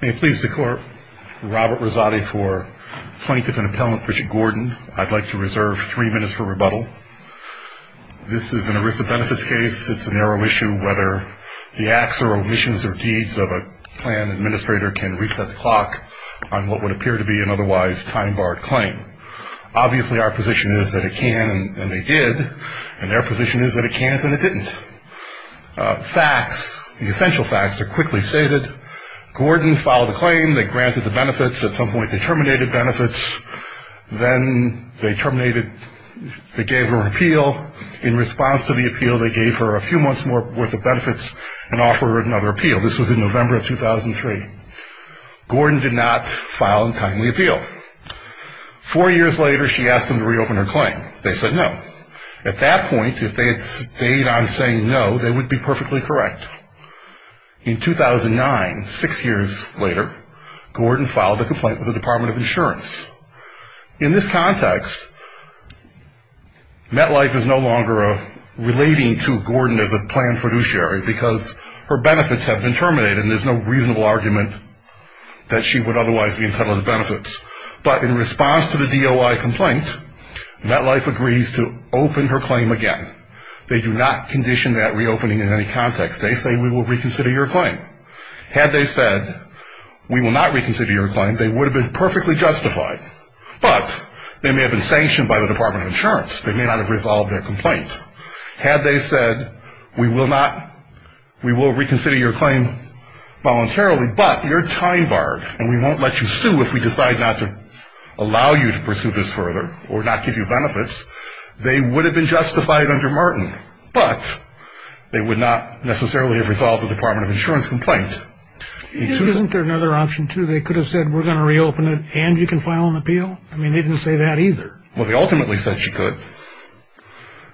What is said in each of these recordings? May it please the Court, Robert Rosati for Plaintiff and Appellant Richard Gordon. I'd like to reserve three minutes for rebuttal. This is an ERISA benefits case. It's a narrow issue whether the acts or omissions or deeds of a plan administrator can reset the clock on what would appear to be an otherwise time-barred claim. Obviously our position is that it can, and they did, and their position is that it can if it didn't. Facts, the essential facts are quickly stated. Gordon filed a claim. They granted the benefits. At some point they terminated benefits. Then they terminated, they gave her an appeal. In response to the appeal, they gave her a few months' worth of benefits and offered her another appeal. This was in November of 2003. Gordon did not file a timely appeal. Four years later, she asked them to reopen her claim. They said no. At that point, if they had stayed on saying no, they would be perfectly correct. In 2009, six years later, Gordon filed a complaint with the Department of Insurance. In this context, MetLife is no longer relating to Gordon as a planned fiduciary because her benefits have been terminated, and there's no reasonable argument that she would otherwise be entitled to benefits. But in response to the DOI complaint, MetLife agrees to open her claim again. They do not condition that reopening in any context. They say we will reconsider your claim. Had they said we will not reconsider your claim, they would have been perfectly justified, but they may have been sanctioned by the Department of Insurance. They may not have resolved their complaint. Had they said we will not, we will reconsider your claim voluntarily, but you're time-barred, and we won't let you sue if we decide not to allow you to pursue this further or not give you benefits, they would have been justified under Martin, but they would not necessarily have resolved the Department of Insurance complaint. Isn't there another option, too? They could have said we're going to reopen it, and you can file an appeal? I mean, they didn't say that either. Well, they ultimately said she could.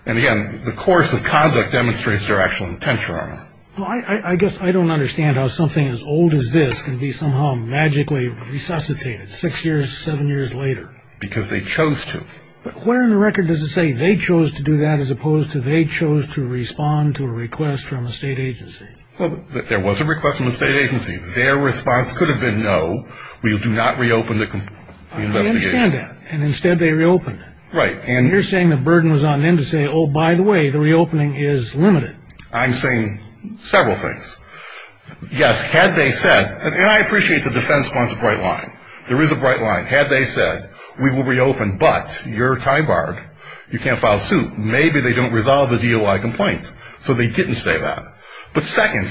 And again, the course of conduct demonstrates their actual intention on it. Well, I guess I don't understand how something as old as this can be somehow magically resuscitated six years, seven years later. Because they chose to. But where in the record does it say they chose to do that as opposed to they chose to respond to a request from a state agency? Well, there was a request from a state agency. Their response could have been no, we do not reopen the investigation. I understand that, and instead they reopened it. Right. And you're saying the burden was on them to say, oh, by the way, the reopening is limited. I'm saying several things. Yes, had they said, and I appreciate the defense wants a bright line. There is a bright line. Had they said we will reopen, but you're time barred, you can't file suit, maybe they don't resolve the DOI complaint. So they didn't say that. But second,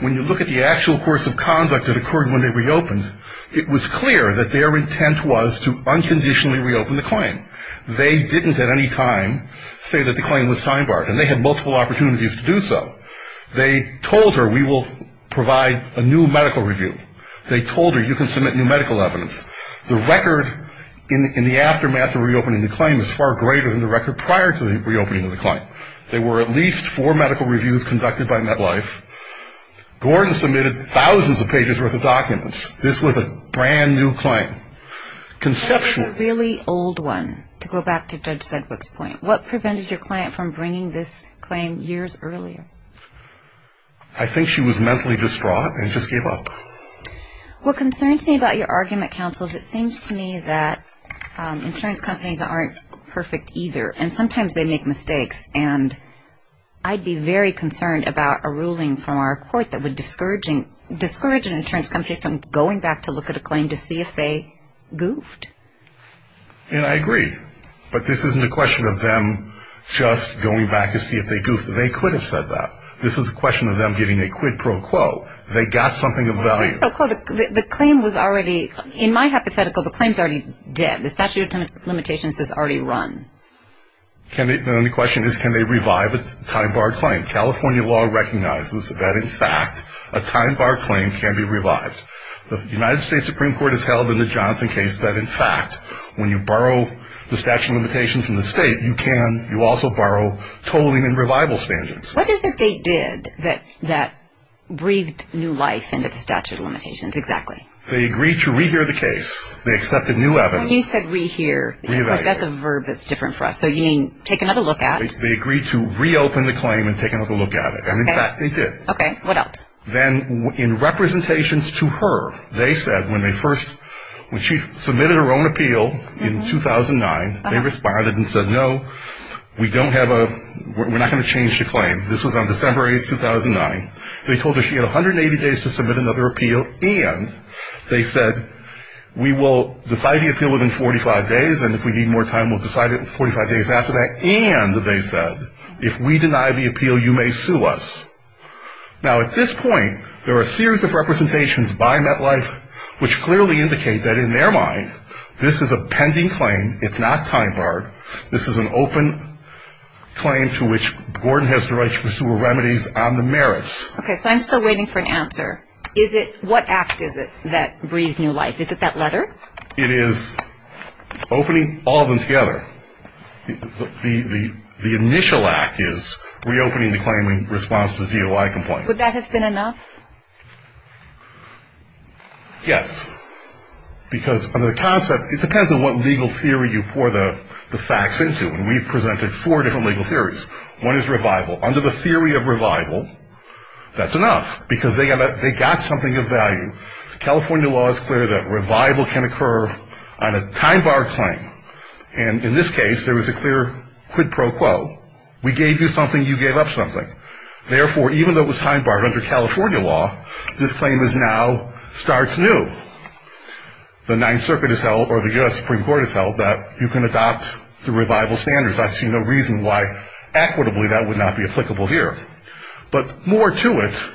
when you look at the actual course of conduct that occurred when they reopened, it was clear that their intent was to unconditionally reopen the claim. They didn't at any time say that the claim was time barred, and they had multiple opportunities to do so. They told her we will provide a new medical review. They told her you can submit new medical evidence. The record in the aftermath of reopening the claim is far greater than the record prior to the reopening of the claim. There were at least four medical reviews conducted by MetLife. Gordon submitted thousands of pages worth of documents. This was a brand-new claim. That was a really old one, to go back to Judge Sedgwick's point. What prevented your client from bringing this claim years earlier? I think she was mentally distraught and just gave up. What concerns me about your argument, counsel, is it seems to me that insurance companies aren't perfect either, and sometimes they make mistakes, and I'd be very concerned about a ruling from our court that would discourage an insurance company from going back to look at a claim to see if they goofed. And I agree, but this isn't a question of them just going back to see if they goofed. They could have said that. This is a question of them giving a quid pro quo. They got something of value. The claim was already, in my hypothetical, the claim's already dead. The statute of limitations says already run. Then the question is can they revive a time-barred claim? California law recognizes that, in fact, a time-barred claim can be revived. The United States Supreme Court has held in the Johnson case that, in fact, when you borrow the statute of limitations from the state, you also borrow tolling and revival standards. What is it they did that breathed new life into the statute of limitations exactly? They agreed to rehear the case. They accepted new evidence. When you said rehear, of course, that's a verb that's different for us. So you mean take another look at? They agreed to reopen the claim and take another look at it, and, in fact, they did. Okay. What else? Then in representations to her, they said when they first, when she submitted her own appeal in 2009, they responded and said, no, we don't have a, we're not going to change the claim. This was on December 8, 2009. They told her she had 180 days to submit another appeal, and they said we will decide the appeal within 45 days, and if we need more time, we'll decide it 45 days after that. And they said if we deny the appeal, you may sue us. Now, at this point, there are a series of representations by MetLife which clearly indicate that, in their mind, this is a pending claim. It's not time barred. This is an open claim to which Gordon has the right to pursue remedies on the merits. Okay. So I'm still waiting for an answer. Is it, what act is it that breathed new life? Is it that letter? It is opening all of them together. The initial act is reopening the claim in response to the DOI complaint. Would that have been enough? Yes, because under the concept, it depends on what legal theory you pour the facts into, and we've presented four different legal theories. One is revival. Under the theory of revival, that's enough, because they got something of value. The California law is clear that revival can occur on a time barred claim. And in this case, there was a clear quid pro quo. We gave you something, you gave up something. Therefore, even though it was time barred under California law, this claim now starts new. The Ninth Circuit has held, or the U.S. Supreme Court has held, that you can adopt the revival standards. I see no reason why, equitably, that would not be applicable here. But more to it,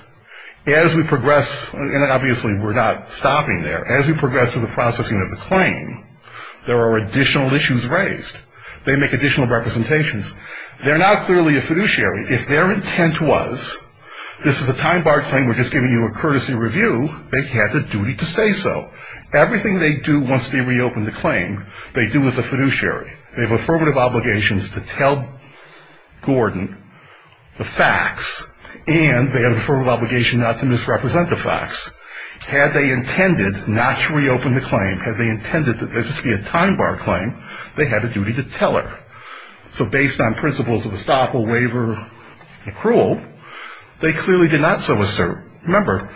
as we progress, and obviously we're not stopping there, as we progress through the processing of the claim, there are additional issues raised. They make additional representations. They're not clearly a fiduciary. If their intent was, this is a time barred claim, we're just giving you a courtesy review, they had the duty to say so. Everything they do once they reopen the claim, they do as a fiduciary. They have affirmative obligations to tell Gordon the facts, and they have an affirmative obligation not to misrepresent the facts. Had they intended not to reopen the claim, had they intended this to be a time barred claim, they had a duty to tell her. So based on principles of estoppel, waiver, accrual, they clearly did not so assert. Remember,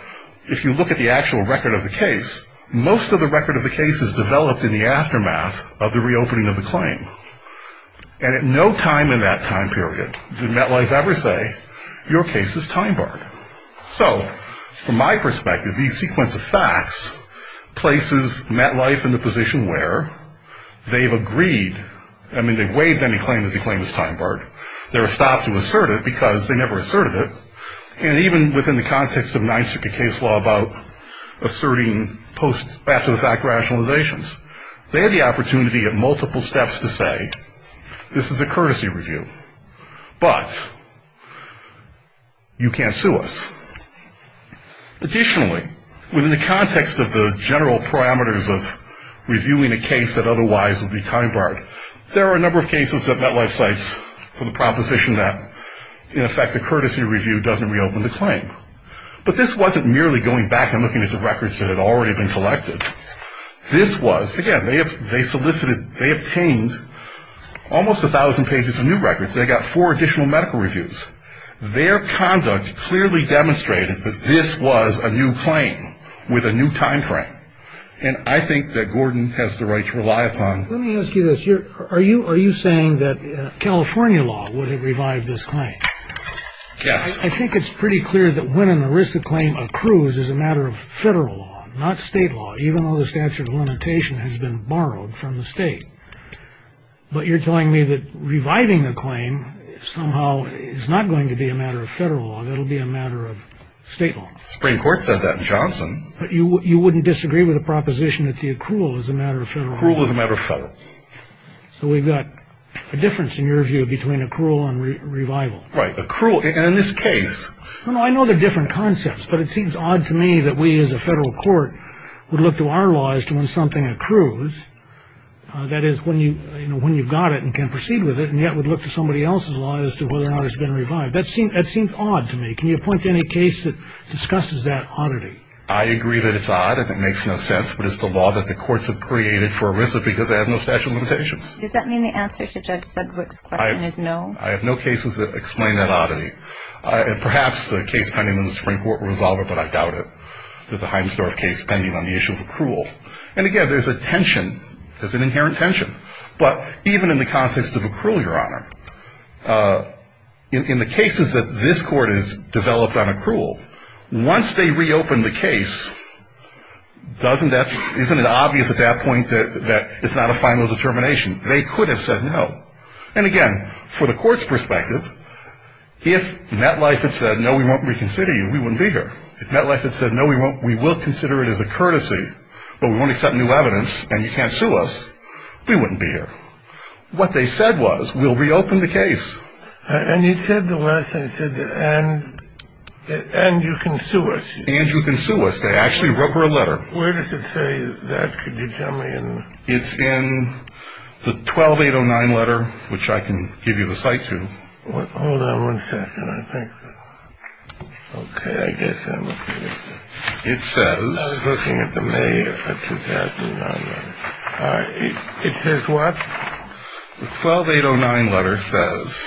if you look at the actual record of the case, most of the record of the case is developed in the aftermath of the reopening of the claim. And at no time in that time period did MetLife ever say, your case is time barred. So from my perspective, these sequence of facts places MetLife in the position where they've agreed, I mean they've waived any claim that they claim is time barred. They're stopped to assert it because they never asserted it. And even within the context of Nijntzuka case law about asserting post-back-to-the-fact rationalizations, they had the opportunity at multiple steps to say, this is a courtesy review, but you can't sue us. Additionally, within the context of the general parameters of reviewing a case that otherwise would be time barred, there are a number of cases that MetLife cites for the proposition that, in effect, a courtesy review doesn't reopen the claim. But this wasn't merely going back and looking at the records that had already been collected. This was, again, they solicited, they obtained almost 1,000 pages of new records. They got four additional medical reviews. Their conduct clearly demonstrated that this was a new claim with a new time frame. And I think that Gordon has the right to rely upon. Let me ask you this. Are you saying that California law would have revived this claim? Yes. I think it's pretty clear that when an arista claim accrues is a matter of federal law, not state law, even though the statute of limitation has been borrowed from the state. But you're telling me that reviving a claim somehow is not going to be a matter of federal law. It'll be a matter of state law. The Supreme Court said that in Johnson. You wouldn't disagree with the proposition that the accrual is a matter of federal law? The accrual is a matter of federal. So we've got a difference, in your view, between accrual and revival. Right. Accrual. And in this case. I know they're different concepts, but it seems odd to me that we, as a federal court, would look to our law as to when something accrues, that is, when you've got it and can proceed with it, and yet would look to somebody else's law as to whether or not it's been revived. That seems odd to me. Can you point to any case that discusses that oddity? I agree that it's odd and it makes no sense, but it's the law that the courts have created for a reason, because it has no statute of limitations. Does that mean the answer to Judge Sedgwick's question is no? I have no cases that explain that oddity. And perhaps the case pending in the Supreme Court will resolve it, but I doubt it. There's a Heinsdorf case pending on the issue of accrual. And, again, there's a tension. There's an inherent tension. But even in the context of accrual, Your Honor, in the cases that this Court has developed on accrual, once they reopen the case, isn't it obvious at that point that it's not a final determination? They could have said no. And, again, for the Court's perspective, if MetLife had said, no, we won't reconsider you, we wouldn't be here. If MetLife had said, no, we will consider it as a courtesy, but we won't accept new evidence, and you can't sue us, we wouldn't be here. What they said was, we'll reopen the case. And you said the last thing, you said, and you can sue us. And you can sue us. They actually wrote her a letter. Where does it say that? Could you tell me? It's in the 12809 letter, which I can give you the cite to. Hold on one second. I think. Okay. I guess I'm looking at it. It says. I was looking at the May 2009 letter. It says what? The 12809 letter says,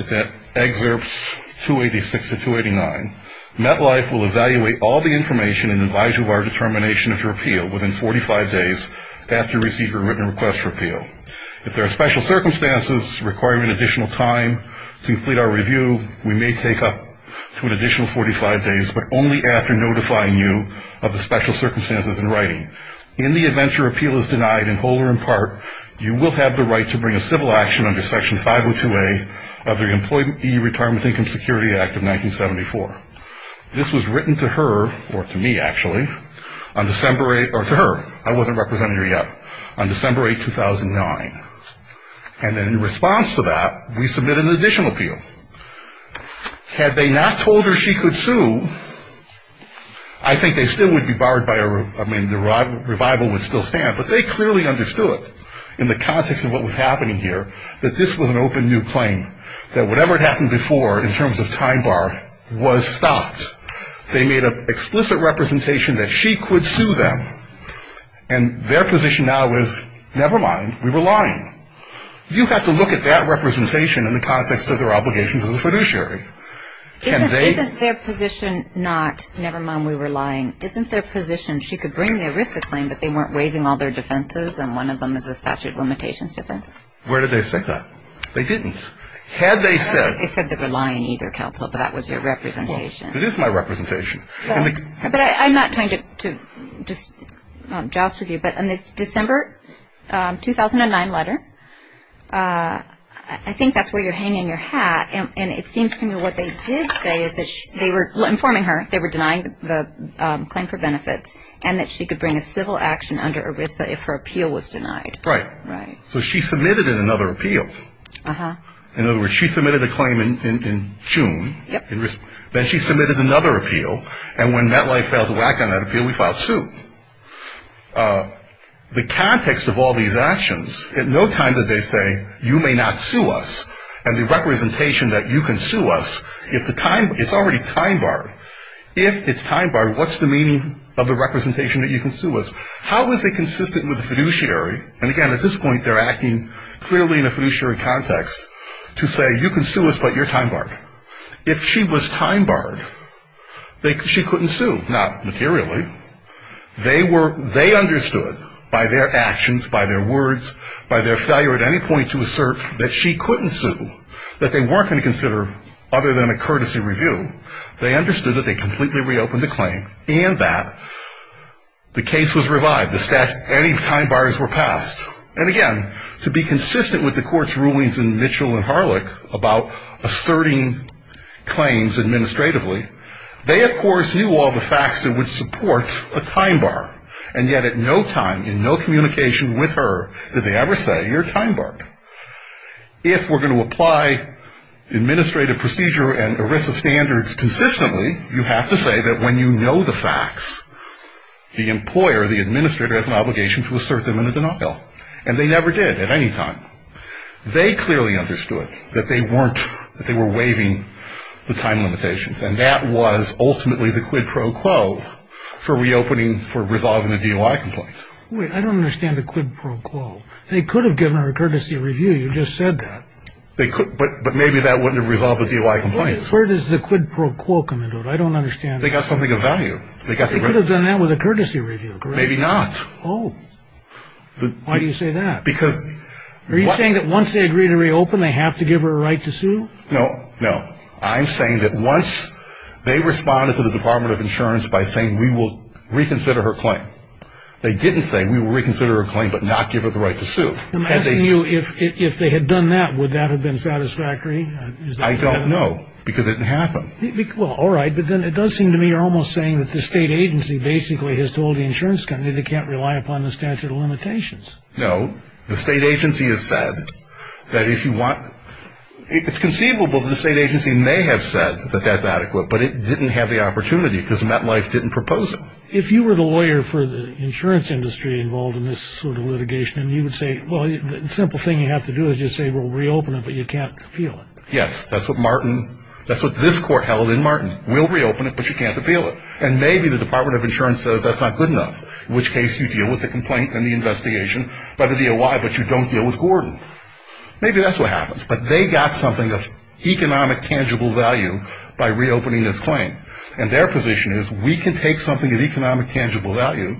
if that excerpts 286 to 289, MetLife will evaluate all the information and advise you of our determination of your appeal within 45 days after you receive your written request for appeal. If there are special circumstances requiring an additional time to complete our review, we may take up to an additional 45 days, but only after notifying you of the special circumstances in writing. In the event your appeal is denied in whole or in part, you will have the right to bring a civil action under Section 502A of the Employee Retirement Income Security Act of 1974. This was written to her, or to me, actually, on December 8th, or to her. I wasn't representing her yet, on December 8th, 2009. And in response to that, we submitted an additional appeal. Had they not told her she could sue, I think they still would be barred by, I mean, the revival would still stand. But they clearly understood, in the context of what was happening here, that this was an open new claim. That whatever had happened before, in terms of time bar, was stopped. They made an explicit representation that she could sue them. And their position now is, never mind, we were lying. You have to look at that representation in the context of their obligations as a fiduciary. Isn't their position not, never mind, we were lying, isn't their position she could bring the ERISA claim, but they weren't waiving all their defenses, and one of them is a statute of limitations defense? Where did they say that? They didn't. Had they said... They said they were lying either, counsel, but that was your representation. It is my representation. But I'm not trying to just joust with you, but in the December 2009 letter, I think that's where you're hanging your hat. And it seems to me what they did say is that they were informing her, they were denying the claim for benefits, and that she could bring a civil action under ERISA if her appeal was denied. Right. So she submitted another appeal. In other words, she submitted a claim in June, then she submitted another appeal, and when MetLife failed to act on that appeal, we filed suit. The context of all these actions, at no time did they say, you may not sue us, and the representation that you can sue us, it's already time-barred. If it's time-barred, what's the meaning of the representation that you can sue us? How is it consistent with the fiduciary? And, again, at this point they're acting clearly in a fiduciary context to say, you can sue us, but you're time-barred. If she was time-barred, she couldn't sue, not materially. They understood by their actions, by their words, by their failure at any point to assert that she couldn't sue, that they weren't going to consider other than a courtesy review. They understood that they completely reopened the claim, and that the case was revived. Any time-bars were passed. And, again, to be consistent with the court's rulings in Mitchell and Harlech about asserting claims administratively, they, of course, knew all the facts that would support a time-bar, and yet at no time, in no communication with her, did they ever say, you're time-barred. If we're going to apply administrative procedure and ERISA standards consistently, you have to say that when you know the facts, the employer, the administrator, has an obligation to assert them in a denial. And they never did at any time. They clearly understood that they weren't, that they were waiving the time limitations, and that was ultimately the quid pro quo for reopening, for resolving the DOI complaint. Wait, I don't understand the quid pro quo. They could have given her a courtesy review. You just said that. They could, but maybe that wouldn't have resolved the DOI complaint. Where does the quid pro quo come into it? I don't understand. They got something of value. They could have done that with a courtesy review, correct? Maybe not. Oh. Why do you say that? Because. Are you saying that once they agree to reopen, they have to give her a right to sue? No, no. I'm saying that once they responded to the Department of Insurance by saying we will reconsider her claim. They didn't say we will reconsider her claim but not give her the right to sue. I'm asking you, if they had done that, would that have been satisfactory? I don't know, because it didn't happen. Well, all right, but then it does seem to me you're almost saying that the state agency basically has told the insurance company they can't rely upon the statute of limitations. No. The state agency has said that if you want, it's conceivable that the state agency may have said that that's adequate, but it didn't have the opportunity because MetLife didn't propose it. If you were the lawyer for the insurance industry involved in this sort of litigation, you would say, well, the simple thing you have to do is just say we'll reopen it, but you can't appeal it. Yes, that's what Martin, that's what this court held in Martin. We'll reopen it, but you can't appeal it. And maybe the Department of Insurance says that's not good enough, in which case you deal with the complaint and the investigation by the DOI, but you don't deal with Gordon. Maybe that's what happens. But they got something of economic tangible value by reopening this claim, and their position is we can take something of economic tangible value,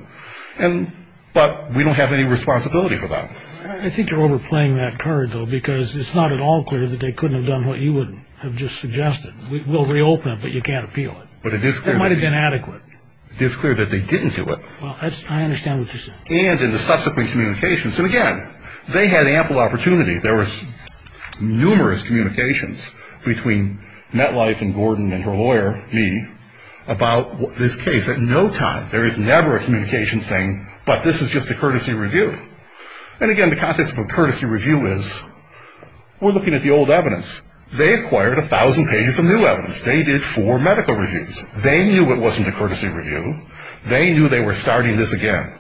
but we don't have any responsibility for that. I think you're overplaying that card, though, because it's not at all clear that they couldn't have done what you would have just suggested. We'll reopen it, but you can't appeal it. But it is clear that they didn't do it. Well, I understand what you're saying. And in the subsequent communications. And, again, they had ample opportunity. There was numerous communications between Metlife and Gordon and her lawyer, me, about this case. At no time, there is never a communication saying, but this is just a courtesy review. And, again, the context of a courtesy review is we're looking at the old evidence. They acquired 1,000 pages of new evidence. They did four medical reviews. They knew it wasn't a courtesy review. They knew they were starting this again.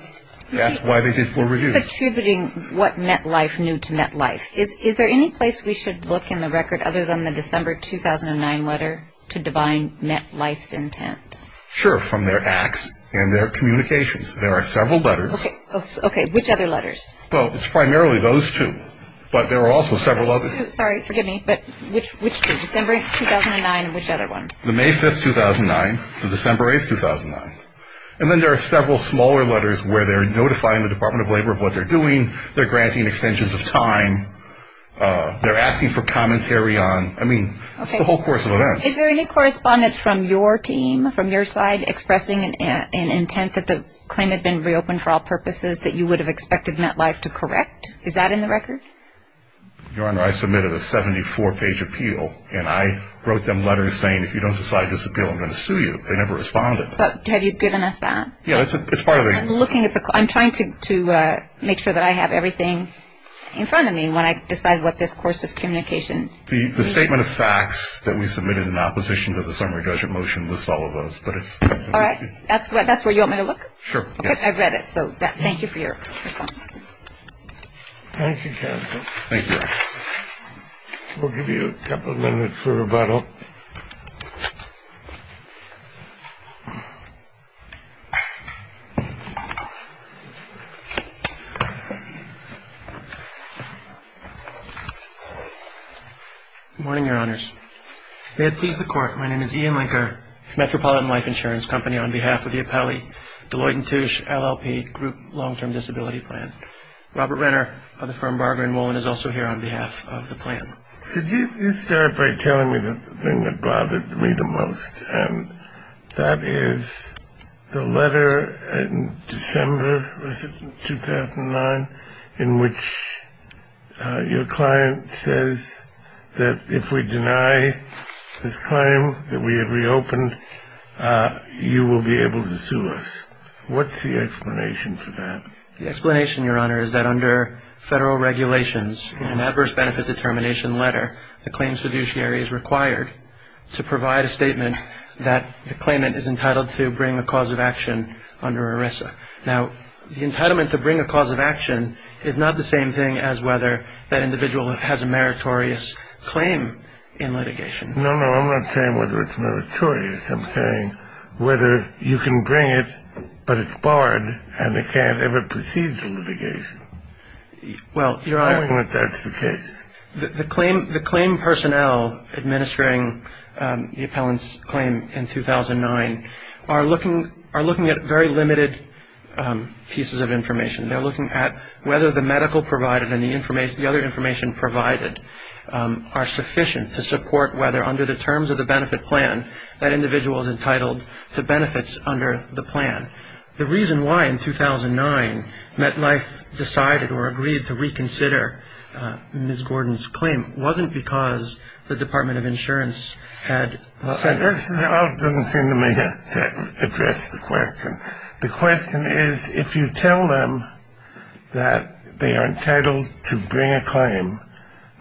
That's why they did four reviews. Attributing what Metlife knew to Metlife. Is there any place we should look in the record other than the December 2009 letter to divine Metlife's intent? Sure, from their acts and their communications. There are several letters. Okay. Which other letters? Well, it's primarily those two, but there are also several others. Sorry, forgive me, but which two? December 2009 and which other one? The May 5, 2009, the December 8, 2009. And then there are several smaller letters where they're notifying the Department of Labor of what they're doing. They're granting extensions of time. They're asking for commentary on, I mean, it's the whole course of events. Is there any correspondence from your team, from your side, expressing an intent that the claim had been reopened for all purposes that you would have expected Metlife to correct? Is that in the record? Your Honor, I submitted a 74-page appeal, and I wrote them letters saying, if you don't decide this appeal, I'm going to sue you. They never responded. But have you given us that? Yeah, it's part of the- I'm looking at the-I'm trying to make sure that I have everything in front of me when I decide what this course of communication- The statement of facts that we submitted in opposition to the summary judgment motion lists all of those, but it's- All right. That's where you want me to look? Sure, yes. Okay, I've read it, so thank you for your comments. Thank you, counsel. Thank you, Your Honor. We'll give you a couple minutes for rebuttal. Good morning, Your Honors. May it please the Court, my name is Ian Linker, Metropolitan Life Insurance Company, on behalf of the Apelli Deloitte & Touche LLP Group Long-Term Disability Plan. Robert Renner of the firm Barger & Wolin is also here on behalf of the plan. Could you start by telling me the thing that bothered me the most, and that is the letter in December, was it, 2009, in which your client says that if we deny this claim that we have reopened, you will be able to sue us. What's the explanation for that? The explanation, Your Honor, is that under federal regulations, in an adverse benefit determination letter, the claim fiduciary is required to provide a statement that the claimant is entitled to bring a cause of action under ERISA. Now, the entitlement to bring a cause of action is not the same thing as whether that individual has a meritorious claim in litigation. No, no, I'm not saying whether it's meritorious. I'm saying whether you can bring it, but it's barred and they can't ever proceed to litigation. Well, Your Honor. I don't think that's the case. The claim personnel administering the appellant's claim in 2009 are looking at very limited pieces of information. They're looking at whether the medical provided and the other information provided are sufficient to support whether, under the terms of the benefit plan, that individual is entitled to benefits under the plan. The reason why, in 2009, MetLife decided or agreed to reconsider Ms. Gordon's claim wasn't because the Department of Insurance had sent it. That doesn't seem to me to address the question. The question is, if you tell them that they are entitled to bring a claim,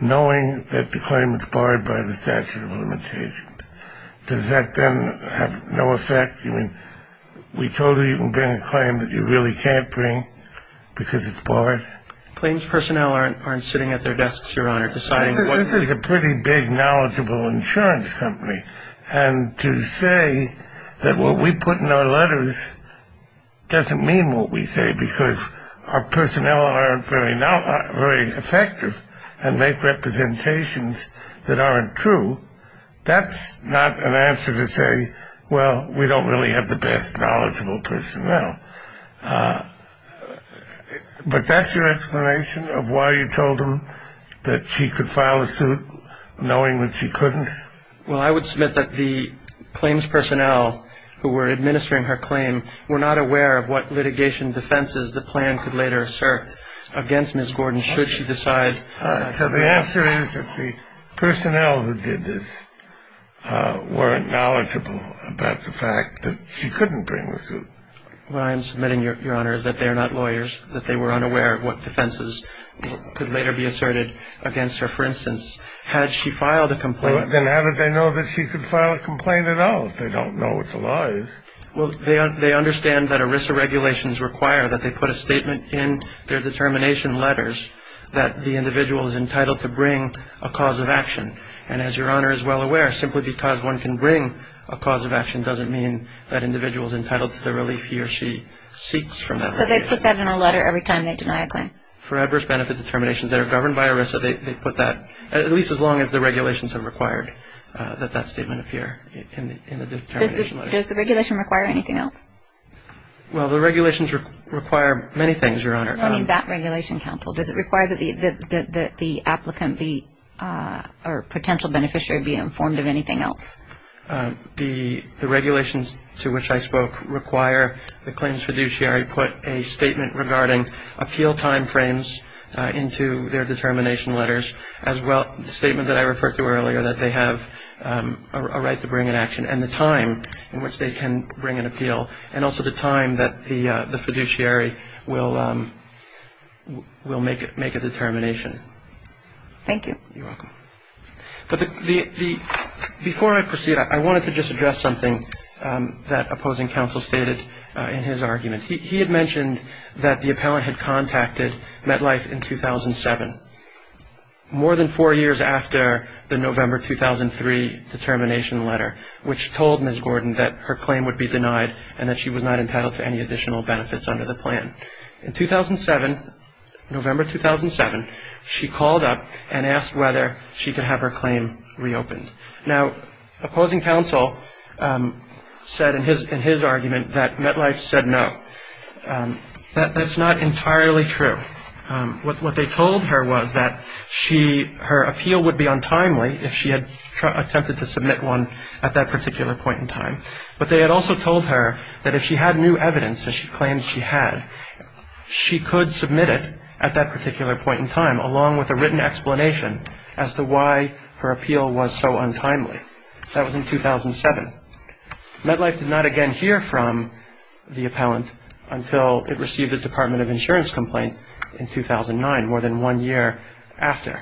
knowing that the claim is barred by the statute of limitations, does that then have no effect? You mean we told you you can bring a claim that you really can't bring because it's barred? Claims personnel aren't sitting at their desks, Your Honor, deciding what to do. It doesn't mean what we say because our personnel aren't very effective and make representations that aren't true. That's not an answer to say, well, we don't really have the best knowledgeable personnel. But that's your explanation of why you told them that she could file a suit knowing that she couldn't? Well, I would submit that the claims personnel who were administering her claim were not aware of what litigation defenses the plan could later assert against Ms. Gordon should she decide. So the answer is that the personnel who did this weren't knowledgeable about the fact that she couldn't bring the suit. What I am submitting, Your Honor, is that they are not lawyers, that they were unaware of what defenses could later be asserted against her. Well, then how did they know that she could file a complaint at all if they don't know what the law is? Well, they understand that ERISA regulations require that they put a statement in their determination letters that the individual is entitled to bring a cause of action. And as Your Honor is well aware, simply because one can bring a cause of action doesn't mean that individual is entitled to the relief he or she seeks from that. So they put that in a letter every time they deny a claim? For adverse benefit determinations that are governed by ERISA, they put that at least as long as the regulations have required that that statement appear in the determination letters. Does the regulation require anything else? Well, the regulations require many things, Your Honor. I don't mean that regulation, counsel. Does it require that the applicant or potential beneficiary be informed of anything else? The regulations to which I spoke require the claims fiduciary put a statement regarding appeal timeframes into their determination letters, as well as the statement that I referred to earlier that they have a right to bring an action and the time in which they can bring an appeal and also the time that the fiduciary will make a determination. Thank you. You're welcome. But before I proceed, I wanted to just address something that opposing counsel stated in his argument. He had mentioned that the appellant had contacted MetLife in 2007, more than four years after the November 2003 determination letter, which told Ms. Gordon that her claim would be denied and that she was not entitled to any additional benefits under the plan. In 2007, November 2007, she called up and asked whether she could have her claim reopened. Now, opposing counsel said in his argument that MetLife said no. That's not entirely true. What they told her was that her appeal would be untimely if she had attempted to submit one at that particular point in time. But they had also told her that if she had new evidence that she claimed she had, she could submit it at that particular point in time, along with a written explanation as to why her appeal was so untimely. That was in 2007. MetLife did not again hear from the appellant until it received a Department of Insurance complaint in 2009, more than one year after.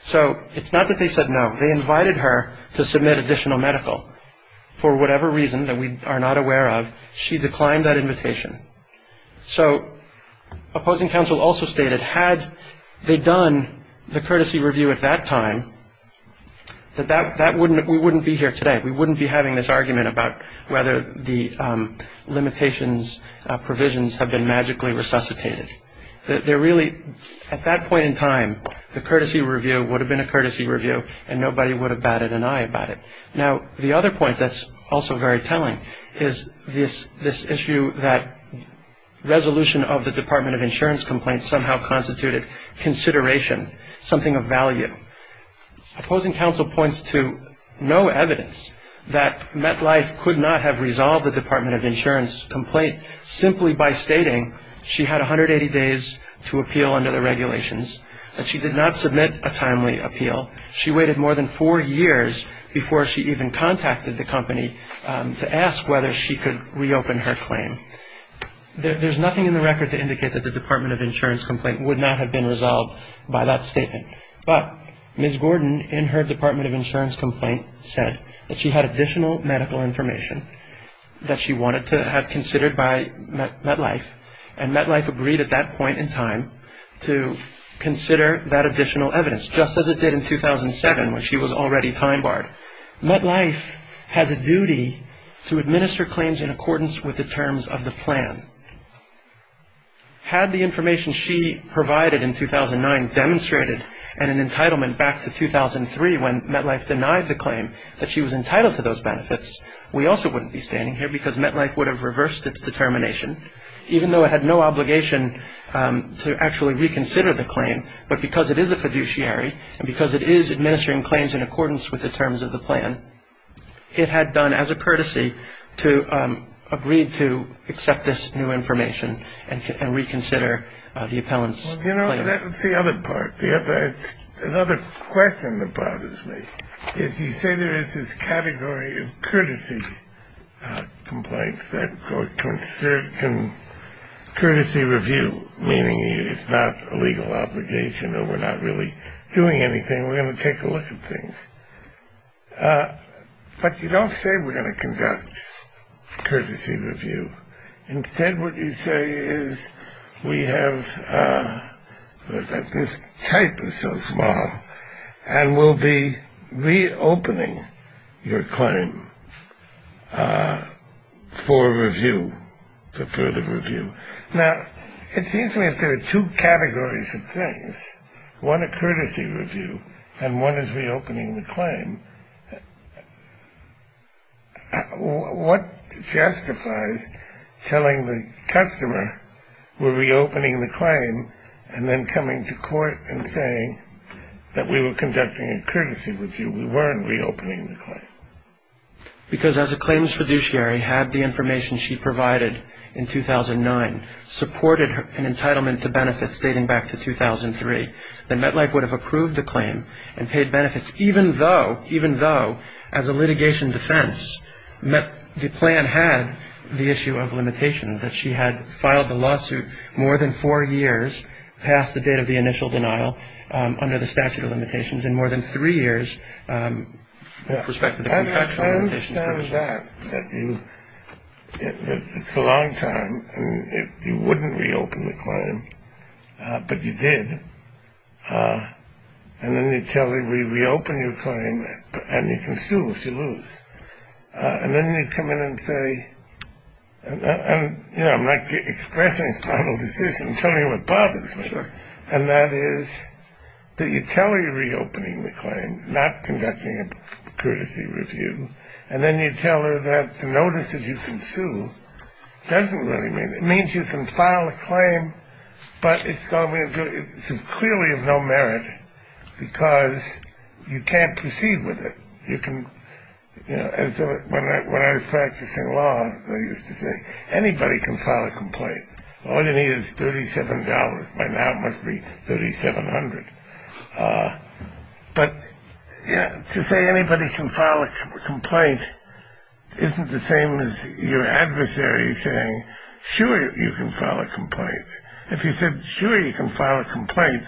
So it's not that they said no. They invited her to submit additional medical. For whatever reason that we are not aware of, she declined that invitation. So opposing counsel also stated had they done the courtesy review at that time, that we wouldn't be here today. We wouldn't be having this argument about whether the limitations, provisions have been magically resuscitated. At that point in time, the courtesy review would have been a courtesy review and nobody would have batted an eye about it. Now, the other point that's also very telling is this issue that resolution of the Department of Insurance complaint somehow constituted consideration, something of value. Opposing counsel points to no evidence that MetLife could not have resolved the Department of Insurance complaint simply by stating she had 180 days to appeal under the regulations, that she did not submit a timely appeal. She waited more than four years before she even contacted the company to ask whether she could reopen her claim. There's nothing in the record to indicate that the Department of Insurance complaint would not have been resolved by that statement. But Ms. Gordon, in her Department of Insurance complaint, said that she had additional medical information that she wanted to have considered by MetLife, and MetLife agreed at that point in time to consider that additional evidence, just as it did in 2007 when she was already time barred. MetLife has a duty to administer claims in accordance with the terms of the plan. Had the information she provided in 2009 demonstrated an entitlement back to 2003 when MetLife denied the claim that she was entitled to those benefits, we also wouldn't be standing here because MetLife would have reversed its determination, but because it is a fiduciary and because it is administering claims in accordance with the terms of the plan, it had done as a courtesy to agree to accept this new information and reconsider the appellant's claim. You know, that's the other part. Another question that bothers me is you say there is this category of courtesy complaints that can courtesy review, meaning it's not a legal obligation or we're not really doing anything, we're going to take a look at things. But you don't say we're going to conduct courtesy review. Instead, what you say is we have, this type is so small, and we'll be reopening your claim for review, for further review. Now, it seems to me if there are two categories of things, one a courtesy review and one is reopening the claim, what justifies telling the customer we're reopening the claim and then coming to court and saying that we were conducting a courtesy review, we weren't reopening the claim? Because as a claims fiduciary had the information she provided in 2009, supported an entitlement to benefits dating back to 2003, then MetLife would have approved the claim and paid benefits, even though as a litigation defense the plan had the issue of limitations, that she had filed the lawsuit more than four years past the date of the initial denial under the statute of limitations and more than three years with respect to the contractual limitations. I understand that. It's a long time. You wouldn't reopen the claim, but you did. And then you tell her we reopen your claim and you can sue if you lose. And then you come in and say, you know, I'm not expressing a final decision. I'm telling you what bothers me. Sure. And that is that you tell her you're reopening the claim, not conducting a courtesy review, and then you tell her that the notice that you can sue doesn't really mean, it means you can file a claim, but it's clearly of no merit because you can't proceed with it. You can, you know, when I was practicing law I used to say anybody can file a complaint. All you need is $37. By now it must be $3,700. But to say anybody can file a complaint isn't the same as your adversary saying, sure, you can file a complaint. If you said, sure, you can file a complaint,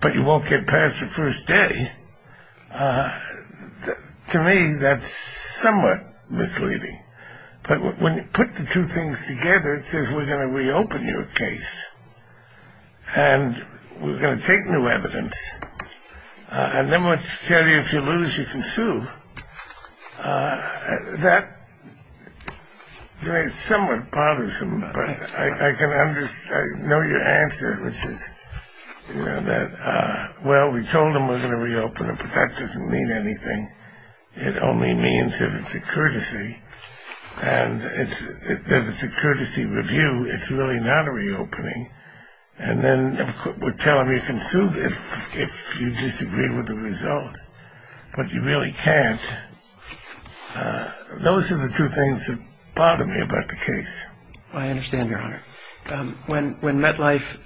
but you won't get past the first day, to me that's somewhat misleading. But when you put the two things together it says we're going to reopen your case and we're going to take new evidence, and then we'll tell you if you lose you can sue. That is somewhat partisan, but I can understand, I know your answer, which is, you know, that well, we told them we're going to reopen it, but that doesn't mean anything. It only means that it's a courtesy, and that it's a courtesy review. It's really not a reopening. And then we'll tell them you can sue if you disagree with the result, but you really can't. Those are the two things that bother me about the case. I understand, Your Honor. When MetLife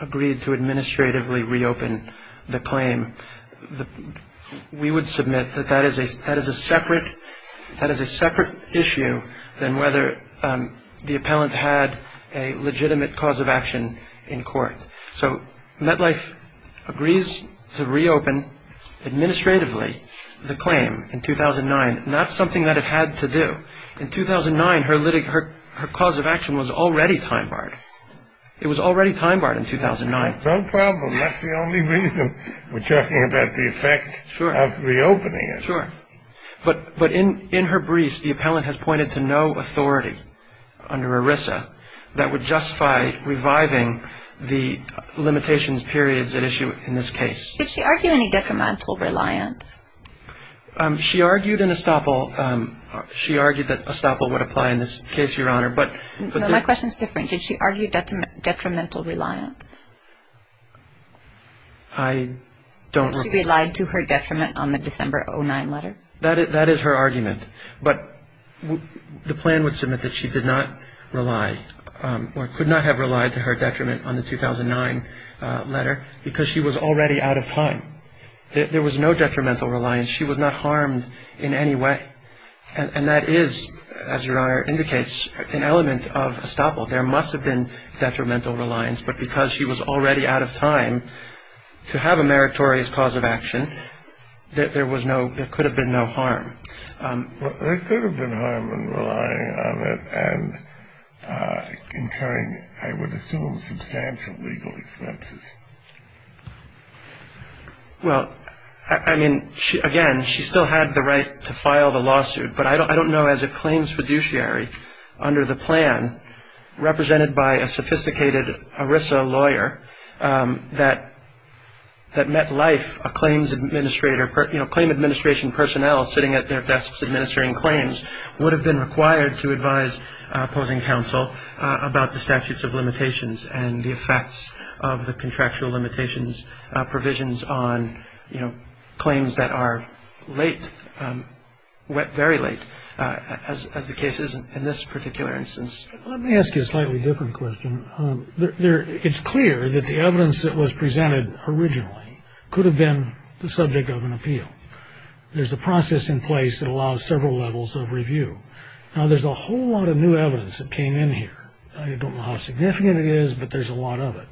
agreed to administratively reopen the claim, we would submit that that is a separate issue than whether the appellant had a legitimate cause of action in court. So MetLife agrees to reopen administratively the claim in 2009, not something that it had to do. In 2009, her cause of action was already time barred. It was already time barred in 2009. No problem. That's the only reason we're talking about the effect of reopening it. Sure. But in her briefs, the appellant has pointed to no authority under ERISA that would justify reviving the limitations periods at issue in this case. Did she argue any detrimental reliance? She argued in Estoppel. She argued that Estoppel would apply in this case, Your Honor. No, my question is different. Did she argue detrimental reliance? I don't recall. She relied to her detriment on the December 2009 letter. That is her argument. But the plan would submit that she did not rely or could not have relied to her detriment on the 2009 letter because she was already out of time. There was no detrimental reliance. She was not harmed in any way. And that is, as Your Honor indicates, an element of Estoppel. There must have been detrimental reliance. But because she was already out of time to have a meritorious cause of action, there could have been no harm. There could have been harm in relying on it and incurring, I would assume, substantial legal expenses. Well, I mean, again, she still had the right to file the lawsuit, but I don't know as a claims fiduciary under the plan, represented by a sophisticated ERISA lawyer that met life a claims administrator. You know, claim administration personnel sitting at their desks administering claims would have been required to advise opposing counsel about the statutes of limitations and the effects of the contractual limitations provisions on claims that are late, very late, as the case is in this particular instance. Let me ask you a slightly different question. It's clear that the evidence that was presented originally could have been the subject of an appeal. There's a process in place that allows several levels of review. Now, there's a whole lot of new evidence that came in here. I don't know how significant it is, but there's a lot of it.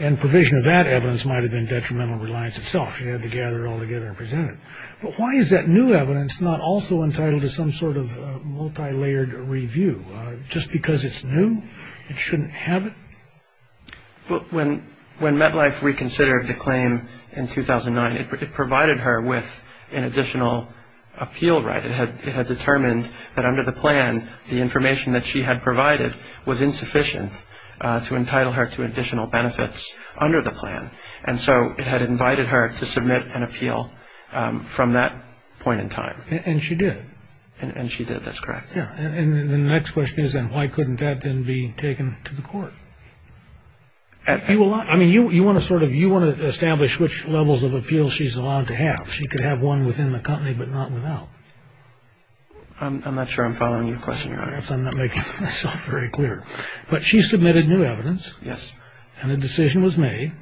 And provision of that evidence might have been detrimental to reliance itself. You had to gather it all together and present it. But why is that new evidence not also entitled to some sort of multilayered review? Just because it's new, it shouldn't have it? Well, when MetLife reconsidered the claim in 2009, it provided her with an additional appeal right. It had determined that under the plan the information that she had provided was insufficient to entitle her to additional benefits under the plan. And so it had invited her to submit an appeal from that point in time. And she did? And she did. That's correct. And the next question is then why couldn't that then be taken to the court? I mean, you want to sort of establish which levels of appeal she's allowed to have. She could have one within the company but not without. I'm not sure I'm following your question, Your Honor. I'm not making myself very clear. But she submitted new evidence. Yes. And a decision was made.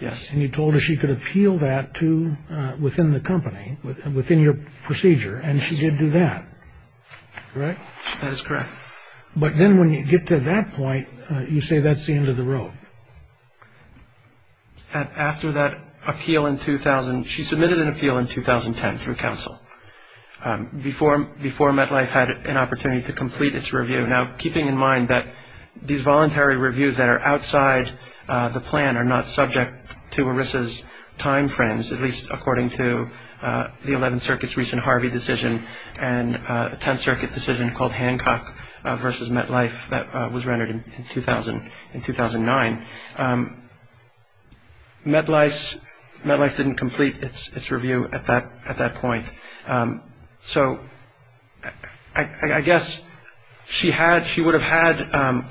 Yes. And you told her she could appeal that to within the company, within your procedure. And she did do that, correct? That is correct. But then when you get to that point, you say that's the end of the rope. After that appeal in 2000, she submitted an appeal in 2010 through counsel, before MetLife had an opportunity to complete its review. Now, keeping in mind that these voluntary reviews that are outside the plan are not subject to ERISA's time frames, at least according to the Eleventh Circuit's recent Harvey decision and a Tenth Circuit decision called Hancock v. MetLife that was rendered in 2009, MetLife didn't complete its review at that point. So I guess she would have had ‑‑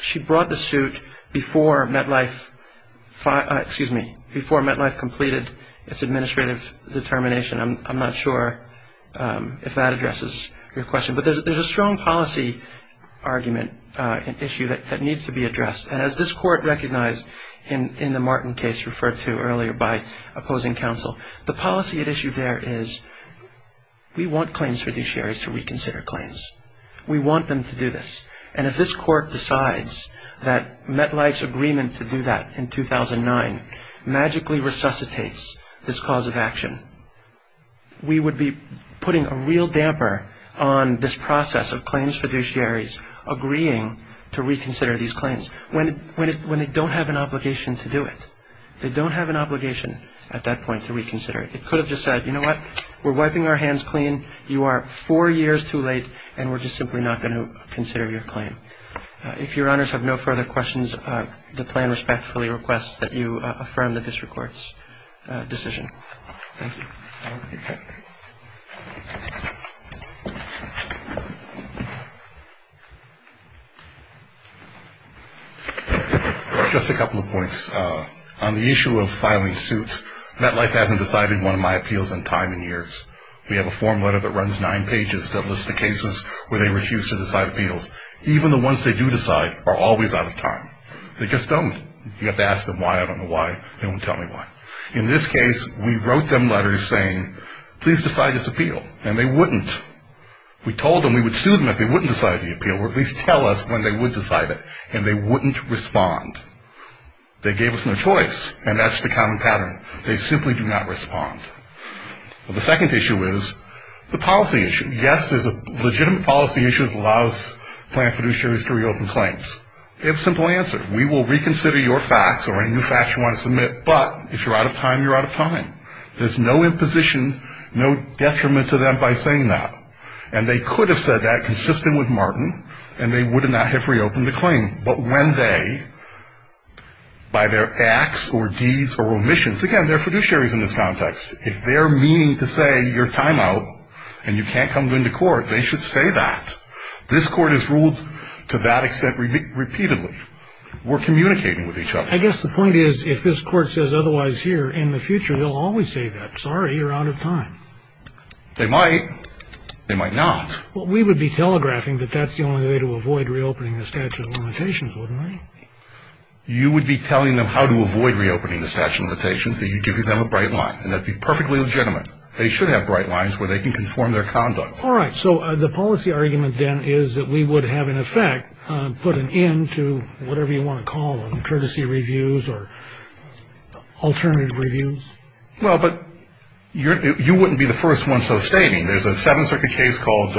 she brought the suit before MetLife, excuse me, before MetLife completed its administrative determination. I'm not sure if that addresses your question. But there's a strong policy argument issue that needs to be addressed. And as this Court recognized in the Martin case referred to earlier by opposing counsel, the policy at issue there is we want claims fiduciaries to reconsider claims. We want them to do this. And if this Court decides that MetLife's agreement to do that in 2009 magically resuscitates this cause of action, we would be putting a real damper on this process of claims fiduciaries agreeing to reconsider these claims when they don't have an obligation to do it. They don't have an obligation at that point to reconsider it. It could have just said, you know what, we're wiping our hands clean, you are four years too late, and we're just simply not going to consider your claim. If Your Honors have no further questions, the plan respectfully requests that you affirm the district court's decision. Thank you. Just a couple of points. On the issue of filing suit, MetLife hasn't decided one of my appeals in time and years. We have a form letter that runs nine pages that lists the cases where they refuse to decide appeals, even the ones they do decide are always out of time. They just don't. You have to ask them why. I don't know why. They don't tell me why. In this case, we wrote them letters saying, please decide this appeal, and they wouldn't. We told them we would sue them if they wouldn't decide the appeal, or at least tell us when they would decide it, and they wouldn't respond. They gave us no choice, and that's the common pattern. They simply do not respond. The second issue is the policy issue. Yes, there's a legitimate policy issue that allows plan fiduciaries to reopen claims. They have a simple answer. We will reconsider your facts or any new facts you want to submit, but if you're out of time, you're out of time. There's no imposition, no detriment to them by saying that. And they could have said that consistent with Martin, and they would not have reopened the claim. But when they, by their acts or deeds or omissions, again, they're fiduciaries in this context. If they're meaning to say you're time out and you can't come into court, they should say that. This court has ruled to that extent repeatedly. We're communicating with each other. I guess the point is if this court says otherwise here, in the future they'll always say that. Sorry, you're out of time. They might. They might not. Well, we would be telegraphing that that's the only way to avoid reopening the statute of limitations, wouldn't we? You would be telling them how to avoid reopening the statute of limitations, and you'd be giving them a bright line, and that would be perfectly legitimate. They should have bright lines where they can conform their conduct. All right. So the policy argument then is that we would have, in effect, put an end to whatever you want to call them, courtesy reviews or alternative reviews? Well, but you wouldn't be the first one so stating. There's a Seventh Circuit case called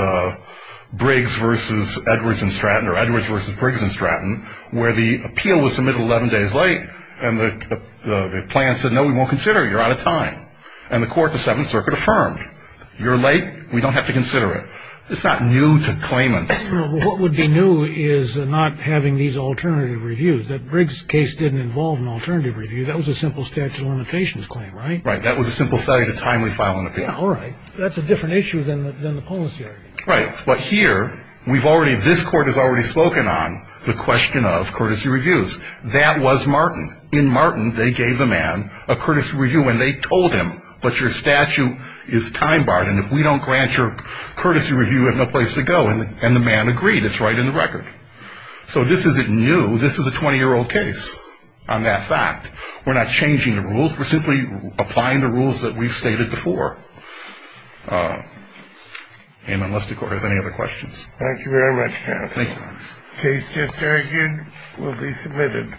Briggs v. Edwards and Stratton, or Edwards v. Briggs and Stratton, where the appeal was submitted 11 days late and the plan said, no, we won't consider it. You're out of time. And the court, the Seventh Circuit, affirmed. You're late. We don't have to consider it. It's not new to claimants. Well, what would be new is not having these alternative reviews, that Briggs case didn't involve an alternative review. That was a simple statute of limitations claim, right? Right. That was a simple failure to timely file an appeal. All right. That's a different issue than the policy argument. Right. But here, we've already, this court has already spoken on the question of courtesy reviews. That was Martin. In Martin, they gave the man a courtesy review and they told him, but your statute is time-barred and if we don't grant your courtesy review, you have no place to go. And the man agreed. It's right in the record. So this isn't new. This is a 20-year-old case on that fact. We're not changing the rules. We're simply applying the rules that we've stated before. And unless the court has any other questions. Thank you very much, counsel. Thank you. The case just argued will be submitted.